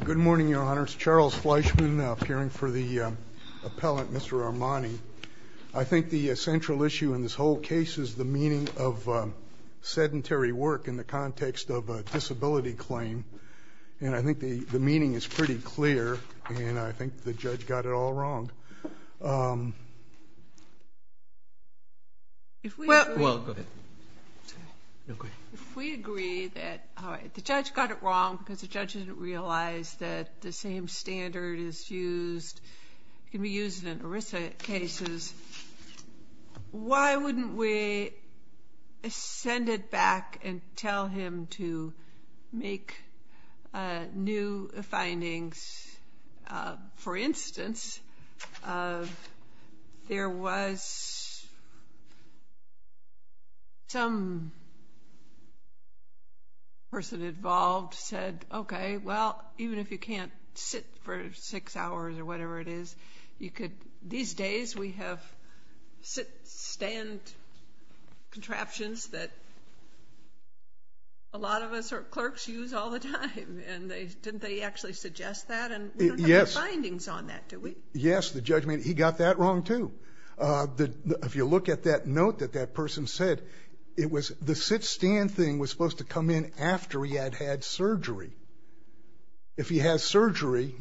Good morning, Your Honor. It's Charles Fleischman, appearing for the appellant, Mr. Armani. I think the central issue in this whole case is the meaning of sedentary work in the context of a disability claim, and I think the meaning is pretty clear, and I think the judge got it all wrong. If we agree that the judge got it wrong because the judge didn't realize that the same standard can be used in ERISA cases, why wouldn't we send it back and tell him to make new findings? For instance, there was some person involved said, okay, well, even if you can't sit for six hours or whatever it is, these days we have sit-stand contraptions that a lot of us clerks use all the time, and didn't they actually suggest that, and we don't have the findings on that, do we? Yes, the judge, he got that wrong, too. If you look at that note that that person said, the sit-stand thing was supposed to come in after he had had surgery. If he has surgery,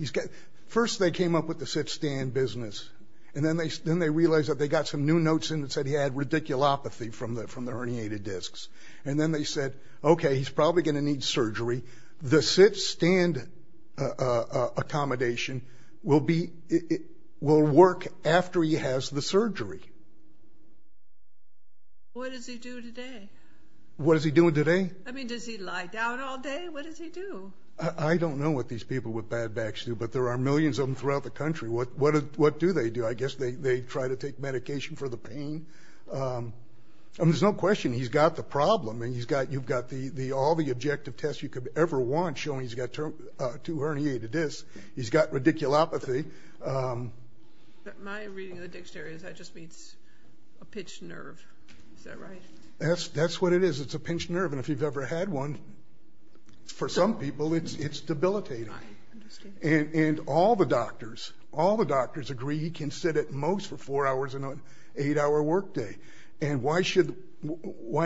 first they came up with the sit-stand business, and then they realized that they got some new notes in that said he had radiculopathy from the herniated discs, and then they said, okay, he's probably going to need surgery. The sit-stand accommodation will work after he has the surgery. What does he do today? What is he doing today? I mean, does he lie down all day? What does he do? I don't know what these people with bad backs do, but there are millions of them throughout the country. I guess they try to take medication for the pain. I mean, there's no question he's got the problem, and you've got all the objective tests you could ever want showing he's got two herniated discs. He's got radiculopathy. My reading of the dictionary is that just means a pinched nerve. Is that right? That's what it is. It's a pinched nerve, and if you've ever had one, for some people it's debilitating. I understand. And all the doctors agree he can sit at most for four hours on an eight-hour workday, and why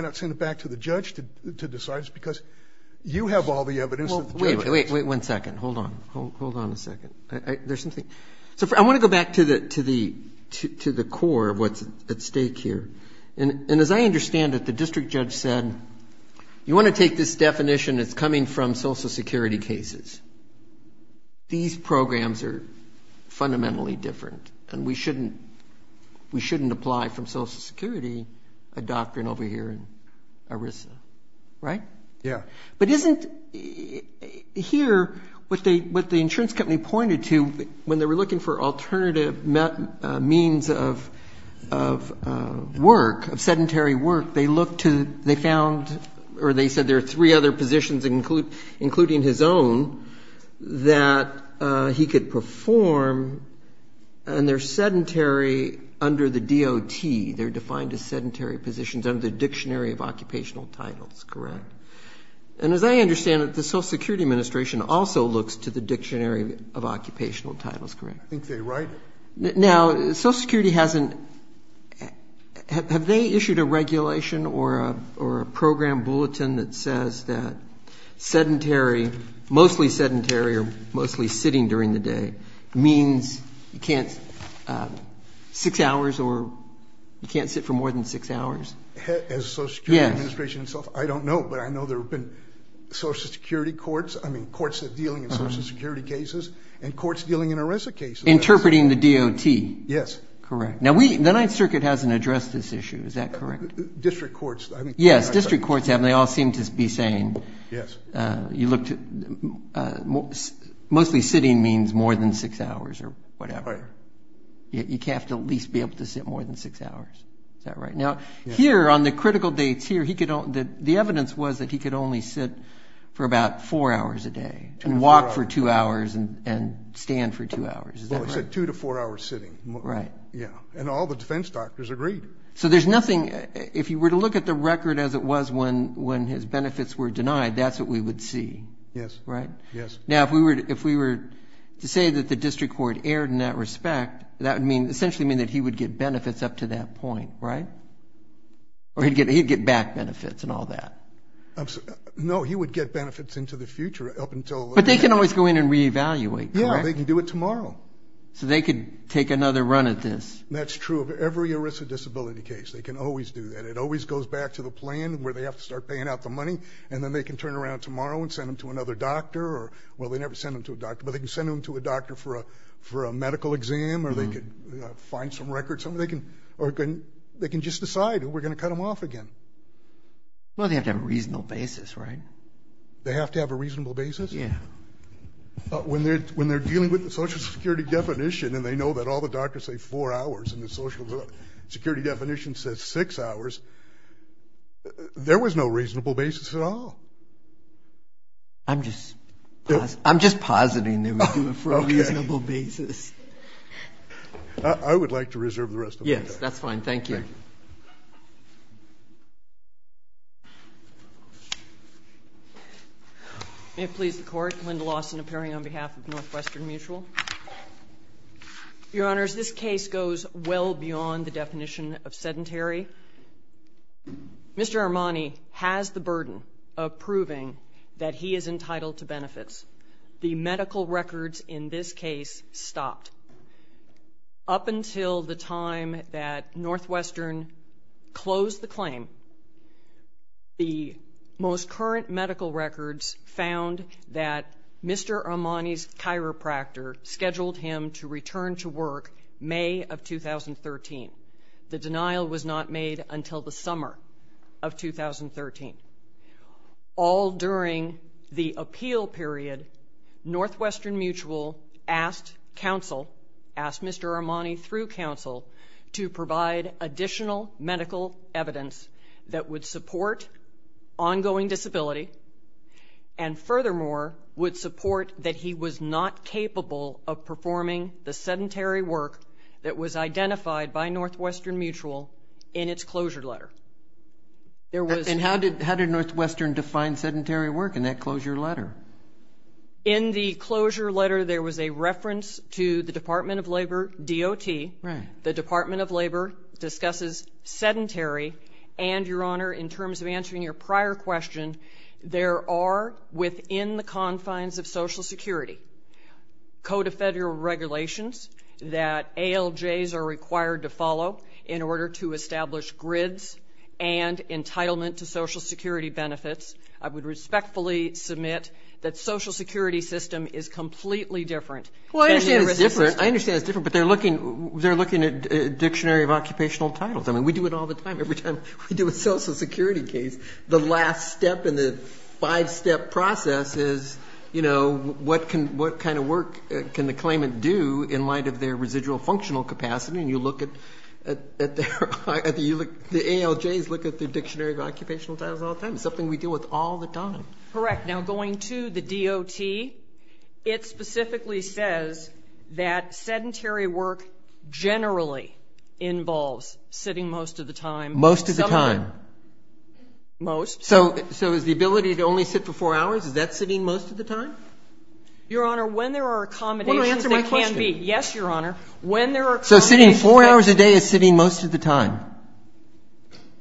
not send it back to the judge to decide? Because you have all the evidence that the judge has. Wait one second. Hold on. Hold on a second. There's something. I want to go back to the core of what's at stake here, and as I understand it, the district judge said, you want to take this definition that's coming from Social Security cases. These programs are fundamentally different, and we shouldn't apply from Social Security a doctrine over here in ERISA. Right? Yeah. But isn't here what the insurance company pointed to when they were looking for alternative means of work, of sedentary work, they found or they said there are three other positions, including his own, that he could perform, and they're sedentary under the DOT. They're defined as sedentary positions under the Dictionary of Occupational Titles, correct? And as I understand it, the Social Security Administration also looks to the Dictionary of Occupational Titles, correct? I think they write it. Now, Social Security hasn't ‑‑ have they issued a regulation or a program bulletin that says that sedentary, mostly sedentary or mostly sitting during the day, means you can't six hours or you can't sit for more than six hours? As Social Security Administration itself, I don't know, but I know there have been Social Security courts, I mean, courts that are dealing in Social Security cases and courts dealing in ERISA cases. Interpreting the DOT. Yes. Correct. Now, the Ninth Circuit hasn't addressed this issue. Is that correct? District courts. Yes, district courts have, and they all seem to be saying you look to ‑‑ mostly sitting means more than six hours or whatever. You have to at least be able to sit more than six hours. Is that right? Now, here on the critical dates here, the evidence was that he could only sit for about four hours a day and walk for two hours and stand for two hours. Is that right? Well, it said two to four hours sitting. Right. Yeah, and all the defense doctors agreed. So there's nothing ‑‑ if you were to look at the record as it was when his benefits were denied, that's what we would see. Yes. Right? Yes. Now, if we were to say that the district court erred in that respect, that would essentially mean that he would get benefits up to that point, right? Or he'd get back benefits and all that. No, he would get benefits into the future up until ‑‑ But they can always go in and reevaluate, correct? Yeah, they can do it tomorrow. So they could take another run at this. That's true of every ERISA disability case. They can always do that. It always goes back to the plan where they have to start paying out the money, and then they can turn around tomorrow and send them to another doctor, or well, they never send them to a doctor, but they can send them to a doctor for a medical exam, or they could find some records, or they can just decide we're going to cut them off again. Well, they have to have a reasonable basis, right? They have to have a reasonable basis? Yeah. When they're dealing with the Social Security definition and they know that all the doctors say four hours and the Social Security definition says six hours, there was no reasonable basis at all. I'm just positing they were doing it for a reasonable basis. I would like to reserve the rest of my time. Yes, that's fine. Thank you. May it please the Court. Linda Lawson appearing on behalf of Northwestern Mutual. Your Honors, this case goes well beyond the definition of sedentary. Mr. Armani has the burden of proving that he is entitled to benefits. The medical records in this case stopped. Up until the time that Northwestern closed the claim, the most current medical records found that Mr. Armani's chiropractor scheduled him to return to work May of 2013. The denial was not made until the summer of 2013. All during the appeal period, Northwestern Mutual asked counsel, asked Mr. Armani through counsel, to provide additional medical evidence that would support ongoing disability and, furthermore, would support that he was not capable of performing the sedentary work that was identified by Northwestern Mutual in its closure letter. And how did Northwestern define sedentary work in that closure letter? In the closure letter, there was a reference to the Department of Labor DOT. The Department of Labor discusses sedentary and, Your Honor, in terms of answering your prior question, there are within the confines of Social Security code of federal regulations that ALJs are required to follow in order to establish grids and entitlement to Social Security benefits. I would respectfully submit that Social Security system is completely different. Well, I understand it's different, but they're looking at a dictionary of occupational titles. I mean, we do it all the time. Every time we do a Social Security case, the last step in the five-step process is, you know, what kind of work can the claimant do in light of their residual functional capacity? And you look at their ALJs, look at their dictionary of occupational titles all the time. It's something we deal with all the time. Correct. Now, going to the DOT, it specifically says that sedentary work generally involves sitting most of the time. Most of the time. Most. So is the ability to only sit for four hours, is that sitting most of the time? Your Honor, when there are accommodations there can be. Answer my question. Yes, Your Honor. When there are accommodations there can be. So sitting four hours a day is sitting most of the time?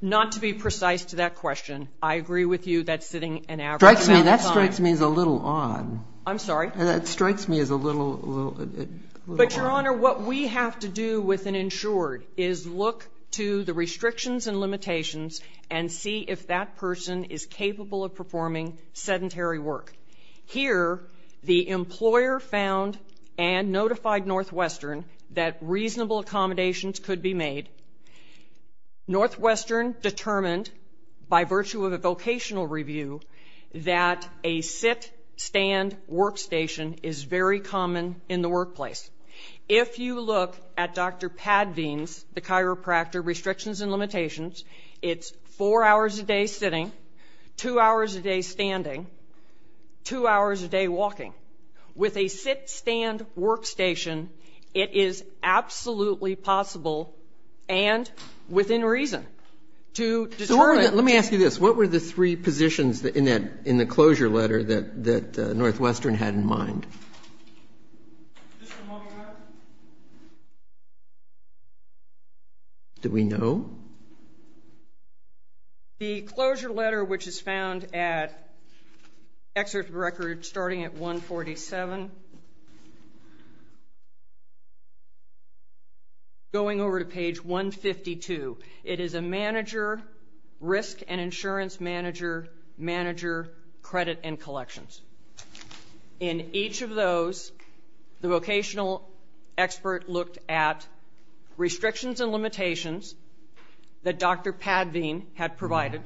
Not to be precise to that question. I agree with you that sitting an average amount of time. That strikes me as a little odd. I'm sorry? That strikes me as a little odd. But, Your Honor, what we have to do with an insured is look to the restrictions and limitations and see if that person is capable of performing sedentary work. Here, the employer found and notified Northwestern that reasonable accommodations could be made. Northwestern determined by virtue of a vocational review that a sit-stand workstation is very common in the workplace. If you look at Dr. Padveen's, the chiropractor, restrictions and limitations, it's four hours a day sitting, two hours a day standing, two hours a day walking. With a sit-stand workstation, it is absolutely possible and within reason to determine. Let me ask you this. What were the three positions in the closure letter that Northwestern had in mind? Just a moment, Your Honor. Do we know? The closure letter, which is found at excerpt record starting at 147, going over to page 152. It is a manager, risk and insurance manager, manager, credit, and collections. In each of those, the vocational expert looked at restrictions and limitations that Dr. Padveen had provided,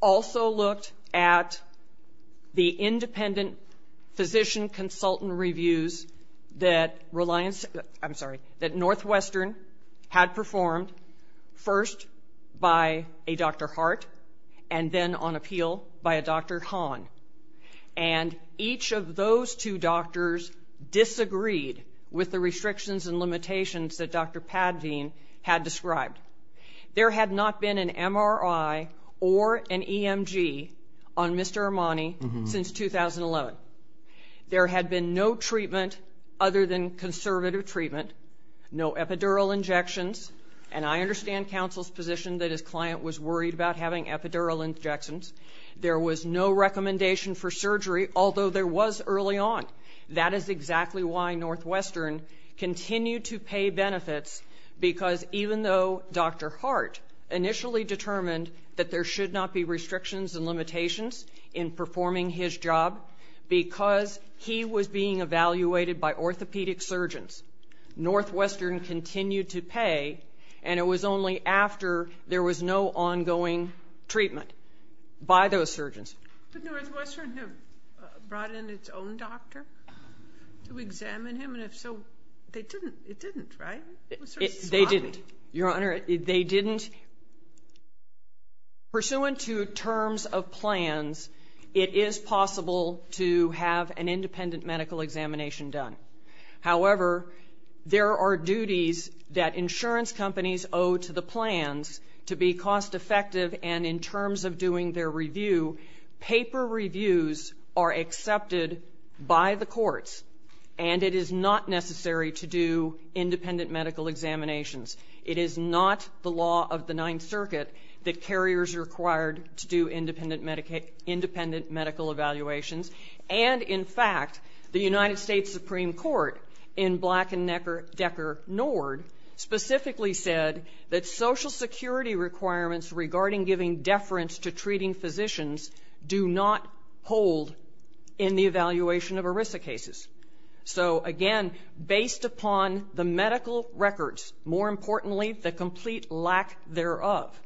also looked at the independent physician consultant reviews that Northwestern had performed, first by a Dr. Hart and then, on appeal, by a Dr. Hahn. And each of those two doctors disagreed with the restrictions and limitations that Dr. Padveen had described. There had not been an MRI or an EMG on Mr. Armani since 2011. There had been no treatment other than conservative treatment, no epidural injections, and I understand counsel's position that his client was worried about having epidural injections. There was no recommendation for surgery, although there was early on. That is exactly why Northwestern continued to pay benefits because even though Dr. Hart initially determined that there should not be restrictions and limitations in performing his job, because he was being evaluated by orthopedic surgeons, Northwestern continued to pay, and it was only after there was no ongoing treatment by those surgeons. But Northwestern had brought in its own doctor to examine him, and if so, it didn't, right? They didn't. Your Honor, they didn't. Pursuant to terms of plans, it is possible to have an independent medical examination done. However, there are duties that insurance companies owe to the plans to be cost-effective, and in terms of doing their review, paper reviews are accepted by the courts, and it is not necessary to do independent medical examinations. It is not the law of the Ninth Circuit that carriers are required to do independent medical evaluations, and, in fact, the United States Supreme Court, in Black and Decker-Nord, specifically said that Social Security requirements regarding giving deference to treating physicians do not hold in the evaluation of ERISA cases. So, again, based upon the medical records, more importantly, the complete lack thereof,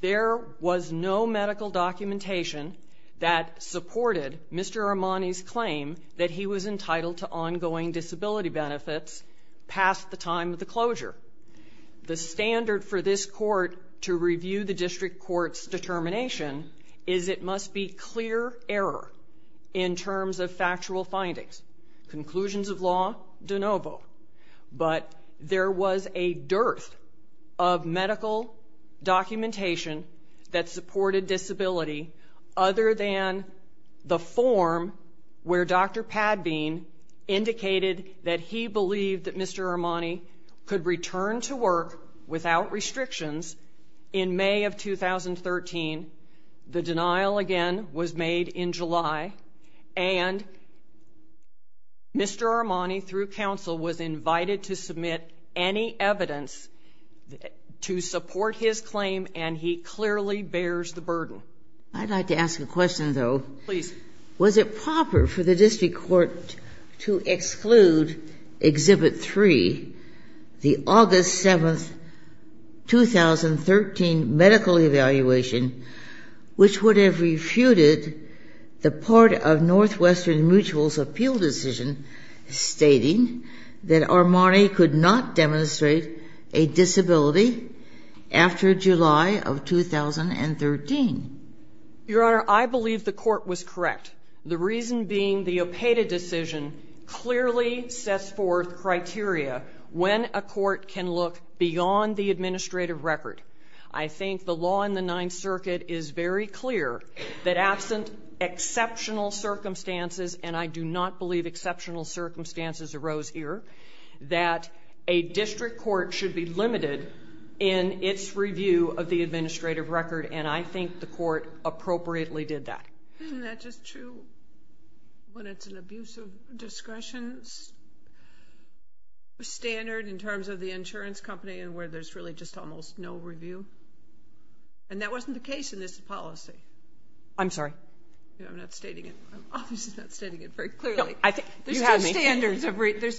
there was no medical documentation that supported Mr. Armani's claim that he was entitled to ongoing disability benefits past the time of the closure. The standard for this court to review the district court's determination is it must be clear error in terms of factual findings. Conclusions of law? De novo. But there was a dearth of medical documentation that supported disability other than the form where Dr. Padbean indicated that he believed that Mr. Armani could return to work without restrictions in May of 2013. The denial, again, was made in July, and Mr. Armani, through counsel, was invited to submit any evidence to support his claim, and he clearly bears the burden. I'd like to ask a question, though. Please. Was it proper for the district court to exclude Exhibit 3, the August 7, 2013, medical evaluation, which would have refuted the part of Northwestern Mutual's appeal decision stating that Armani could not demonstrate a disability after July of 2013? Your Honor, I believe the court was correct. The reason being the OPEDA decision clearly sets forth criteria when a court can look beyond the administrative record. I think the law in the Ninth Circuit is very clear that absent exceptional circumstances, and I do not believe exceptional circumstances arose here, that a district court should be limited in its review of the administrative record, and I think the court appropriately did that. Isn't that just true when it's an abusive discretion standard in terms of the insurance company and where there's really just almost no review? And that wasn't the case in this policy. I'm sorry? I'm not stating it. I'm obviously not stating it very clearly. There's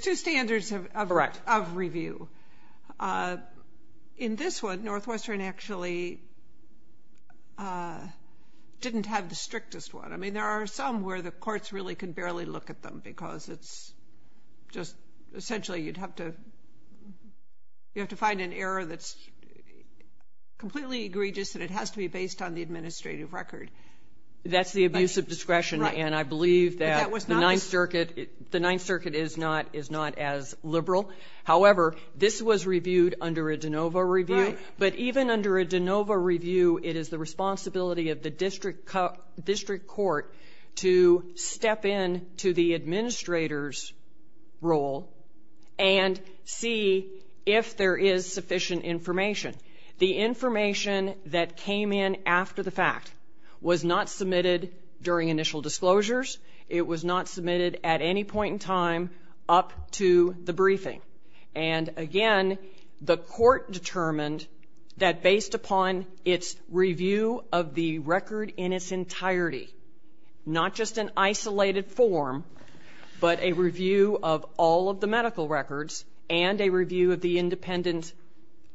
two standards of review. In this one, Northwestern actually didn't have the strictest one. I mean, there are some where the courts really can barely look at them because it's just essentially you'd have to find an error that's completely egregious and it has to be based on the administrative record. That's the abusive discretion, and I believe that the Ninth Circuit is not as liberal. However, this was reviewed under a de novo review, but even under a de novo review it is the responsibility of the district court to step in to the administrator's role and see if there is sufficient information. The information that came in after the fact was not submitted during initial disclosures. It was not submitted at any point in time up to the briefing. And again, the court determined that based upon its review of the record in its entirety, not just an isolated form, but a review of all of the medical records and a review of the independent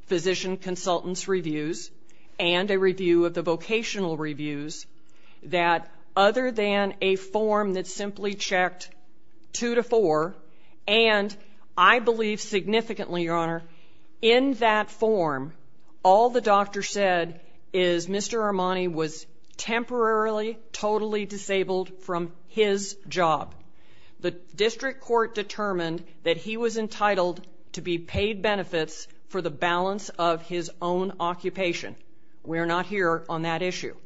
physician consultant's reviews and a review of the vocational reviews, that other than a form that simply checked two to four, and I believe significantly, Your Honor, in that form, all the doctor said is Mr. Armani was temporarily totally disabled from his job. The district court determined that he was entitled to be paid benefits for the balance of his own occupation. We are not here on that issue.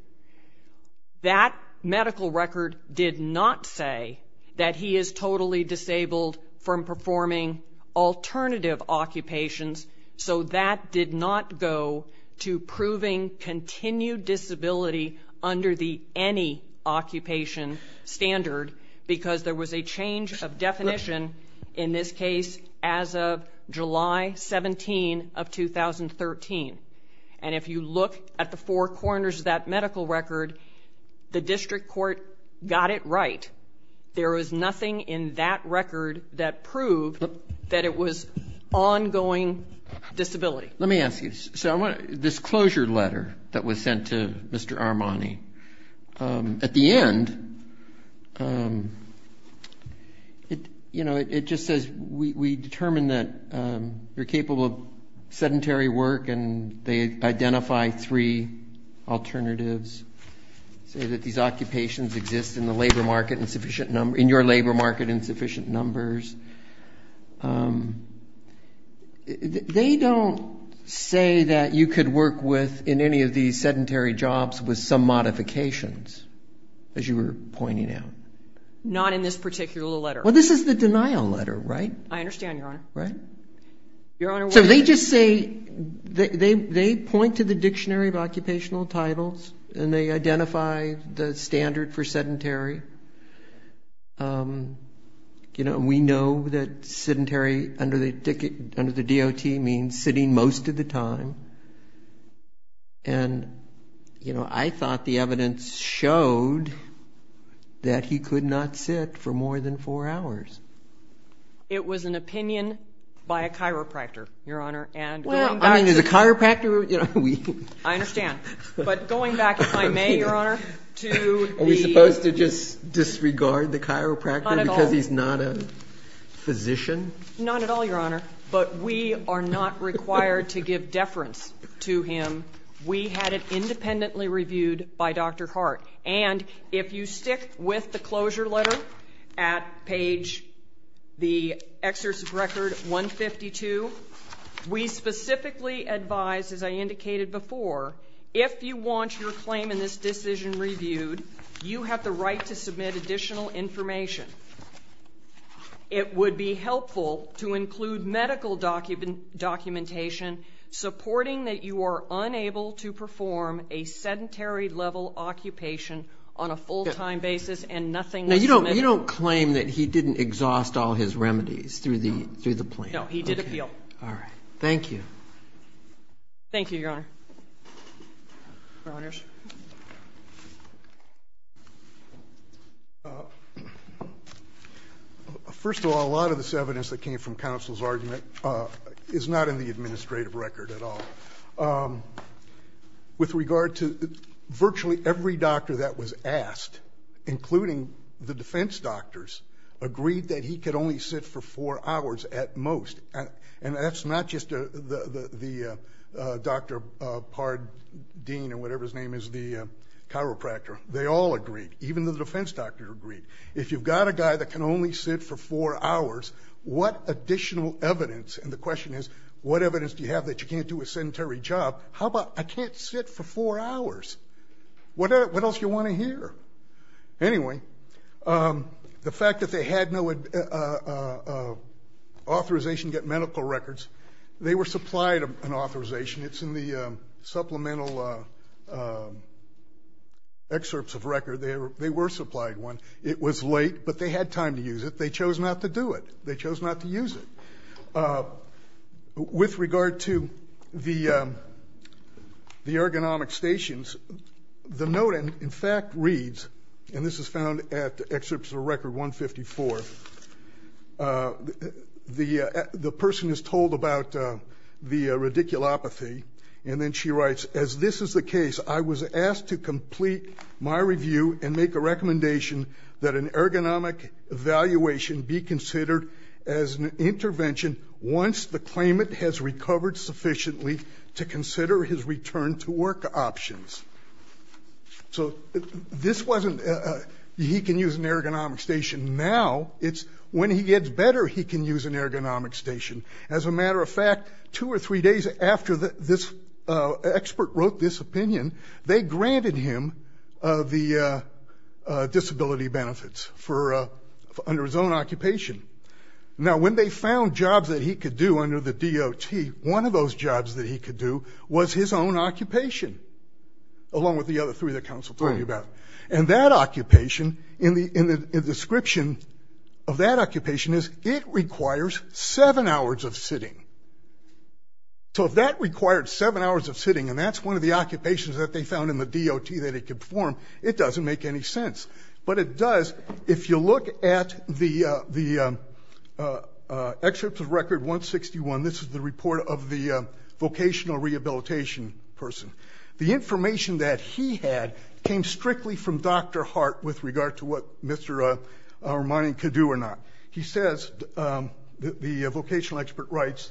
That medical record did not say that he is totally disabled from performing alternative occupations, so that did not go to proving continued disability under the any occupation standard because there was a change of definition in this case as of July 17 of 2013. And if you look at the four corners of that medical record, the district court got it right. There was nothing in that record that proved that it was ongoing disability. Let me ask you. This closure letter that was sent to Mr. Armani, at the end, it just says we determine that you're capable of sedentary work and they identify three alternatives, say that these occupations exist in your labor market in sufficient numbers. They don't say that you could work in any of these sedentary jobs with some modifications, as you were pointing out. Not in this particular letter. Well, this is the denial letter, right? I understand, Your Honor. Right? Your Honor, what is it? So they just say, they point to the Dictionary of Occupational Titles and they identify the standard for sedentary. You know, we know that sedentary under the DOT means sitting most of the time. And, you know, I thought the evidence showed that he could not sit for more than four hours. It was an opinion by a chiropractor, Your Honor. Well, I mean, as a chiropractor, you know. I understand. But going back, if I may, Your Honor, to the. Supposed to just disregard the chiropractor because he's not a physician? Not at all, Your Honor. But we are not required to give deference to him. We had it independently reviewed by Dr. Hart. And if you stick with the closure letter at page, the Excerpt of Record 152, we specifically advise, as I indicated before, if you want your claim in this decision reviewed, you have the right to submit additional information. It would be helpful to include medical documentation supporting that you are unable to perform a sedentary-level occupation on a full-time basis and nothing was submitted. Now, you don't claim that he didn't exhaust all his remedies through the plan? No, he did appeal. All right. Thank you. Thank you, Your Honor. Your Honors. First of all, a lot of this evidence that came from counsel's argument is not in the administrative record at all. With regard to virtually every doctor that was asked, including the defense doctors, agreed that he could only sit for four hours at most. And that's not just the Dr. Pardeen or whatever his name is, the chiropractor. They all agreed, even the defense doctor agreed. If you've got a guy that can only sit for four hours, what additional evidence? And the question is, what evidence do you have that you can't do a sedentary job? How about I can't sit for four hours? What else do you want to hear? Anyway, the fact that they had no authorization to get medical records, they were supplied an authorization. It's in the supplemental excerpts of record. They were supplied one. It was late, but they had time to use it. They chose not to do it. They chose not to use it. With regard to the ergonomic stations, the note in fact reads, and this is found at excerpts of record 154, the person is told about the radiculopathy, and then she writes, as this is the case, I was asked to complete my review and make a recommendation that an ergonomic evaluation be considered as an intervention once the claimant has recovered sufficiently to consider his return to work options. So this wasn't he can use an ergonomic station now. It's when he gets better he can use an ergonomic station. As a matter of fact, two or three days after this expert wrote this opinion, they granted him the disability benefits under his own occupation. Now, when they found jobs that he could do under the DOT, one of those jobs that he could do was his own occupation, along with the other three that counsel told you about. And that occupation, in the description of that occupation, is it requires seven hours of sitting. So if that required seven hours of sitting, and that's one of the occupations that they found in the DOT that he could perform, it doesn't make any sense. But it does if you look at the excerpts of record 161. This is the report of the vocational rehabilitation person. The information that he had came strictly from Dr. Hart with regard to what Mr. Armani could do or not. He says, the vocational expert writes,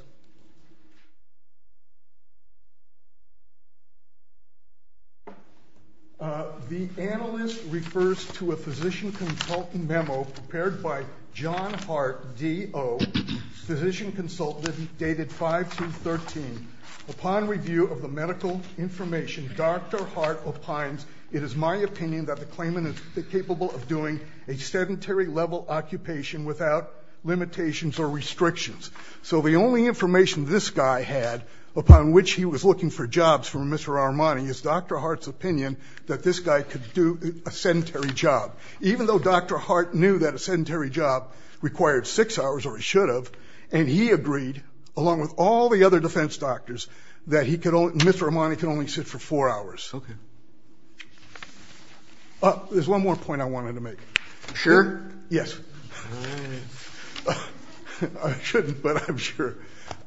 the analyst refers to a physician consultant memo prepared by John Hart, DO, physician consultant dated 5-13. Upon review of the medical information, Dr. Hart opines, it is my opinion that the claimant is capable of doing a sedentary level occupation without limitations or restrictions. So the only information this guy had, upon which he was looking for jobs from Mr. Armani, is Dr. Hart's opinion that this guy could do a sedentary job. Even though Dr. Hart knew that a sedentary job required six hours, or he should have, and he agreed, along with all the other defense doctors, that Mr. Armani could only sit for four hours. Okay. There's one more point I wanted to make. Sure? Yes. I shouldn't, but I'm sure.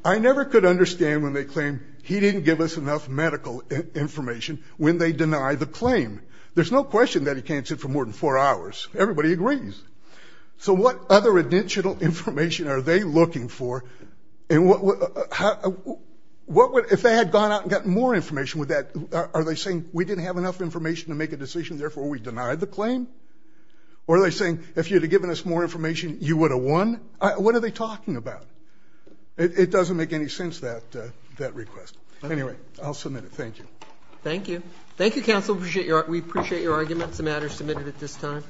I never could understand when they claim he didn't give us enough medical information when they deny the claim. There's no question that he can't sit for more than four hours. Everybody agrees. So what other additional information are they looking for? If they had gone out and gotten more information, are they saying, we didn't have enough information to make a decision, therefore we denied the claim? Or are they saying, if you'd have given us more information, you would have won? What are they talking about? It doesn't make any sense, that request. Anyway, I'll submit it. Thank you. Thank you. Thank you, counsel. We appreciate your arguments. The matter is submitted at this time.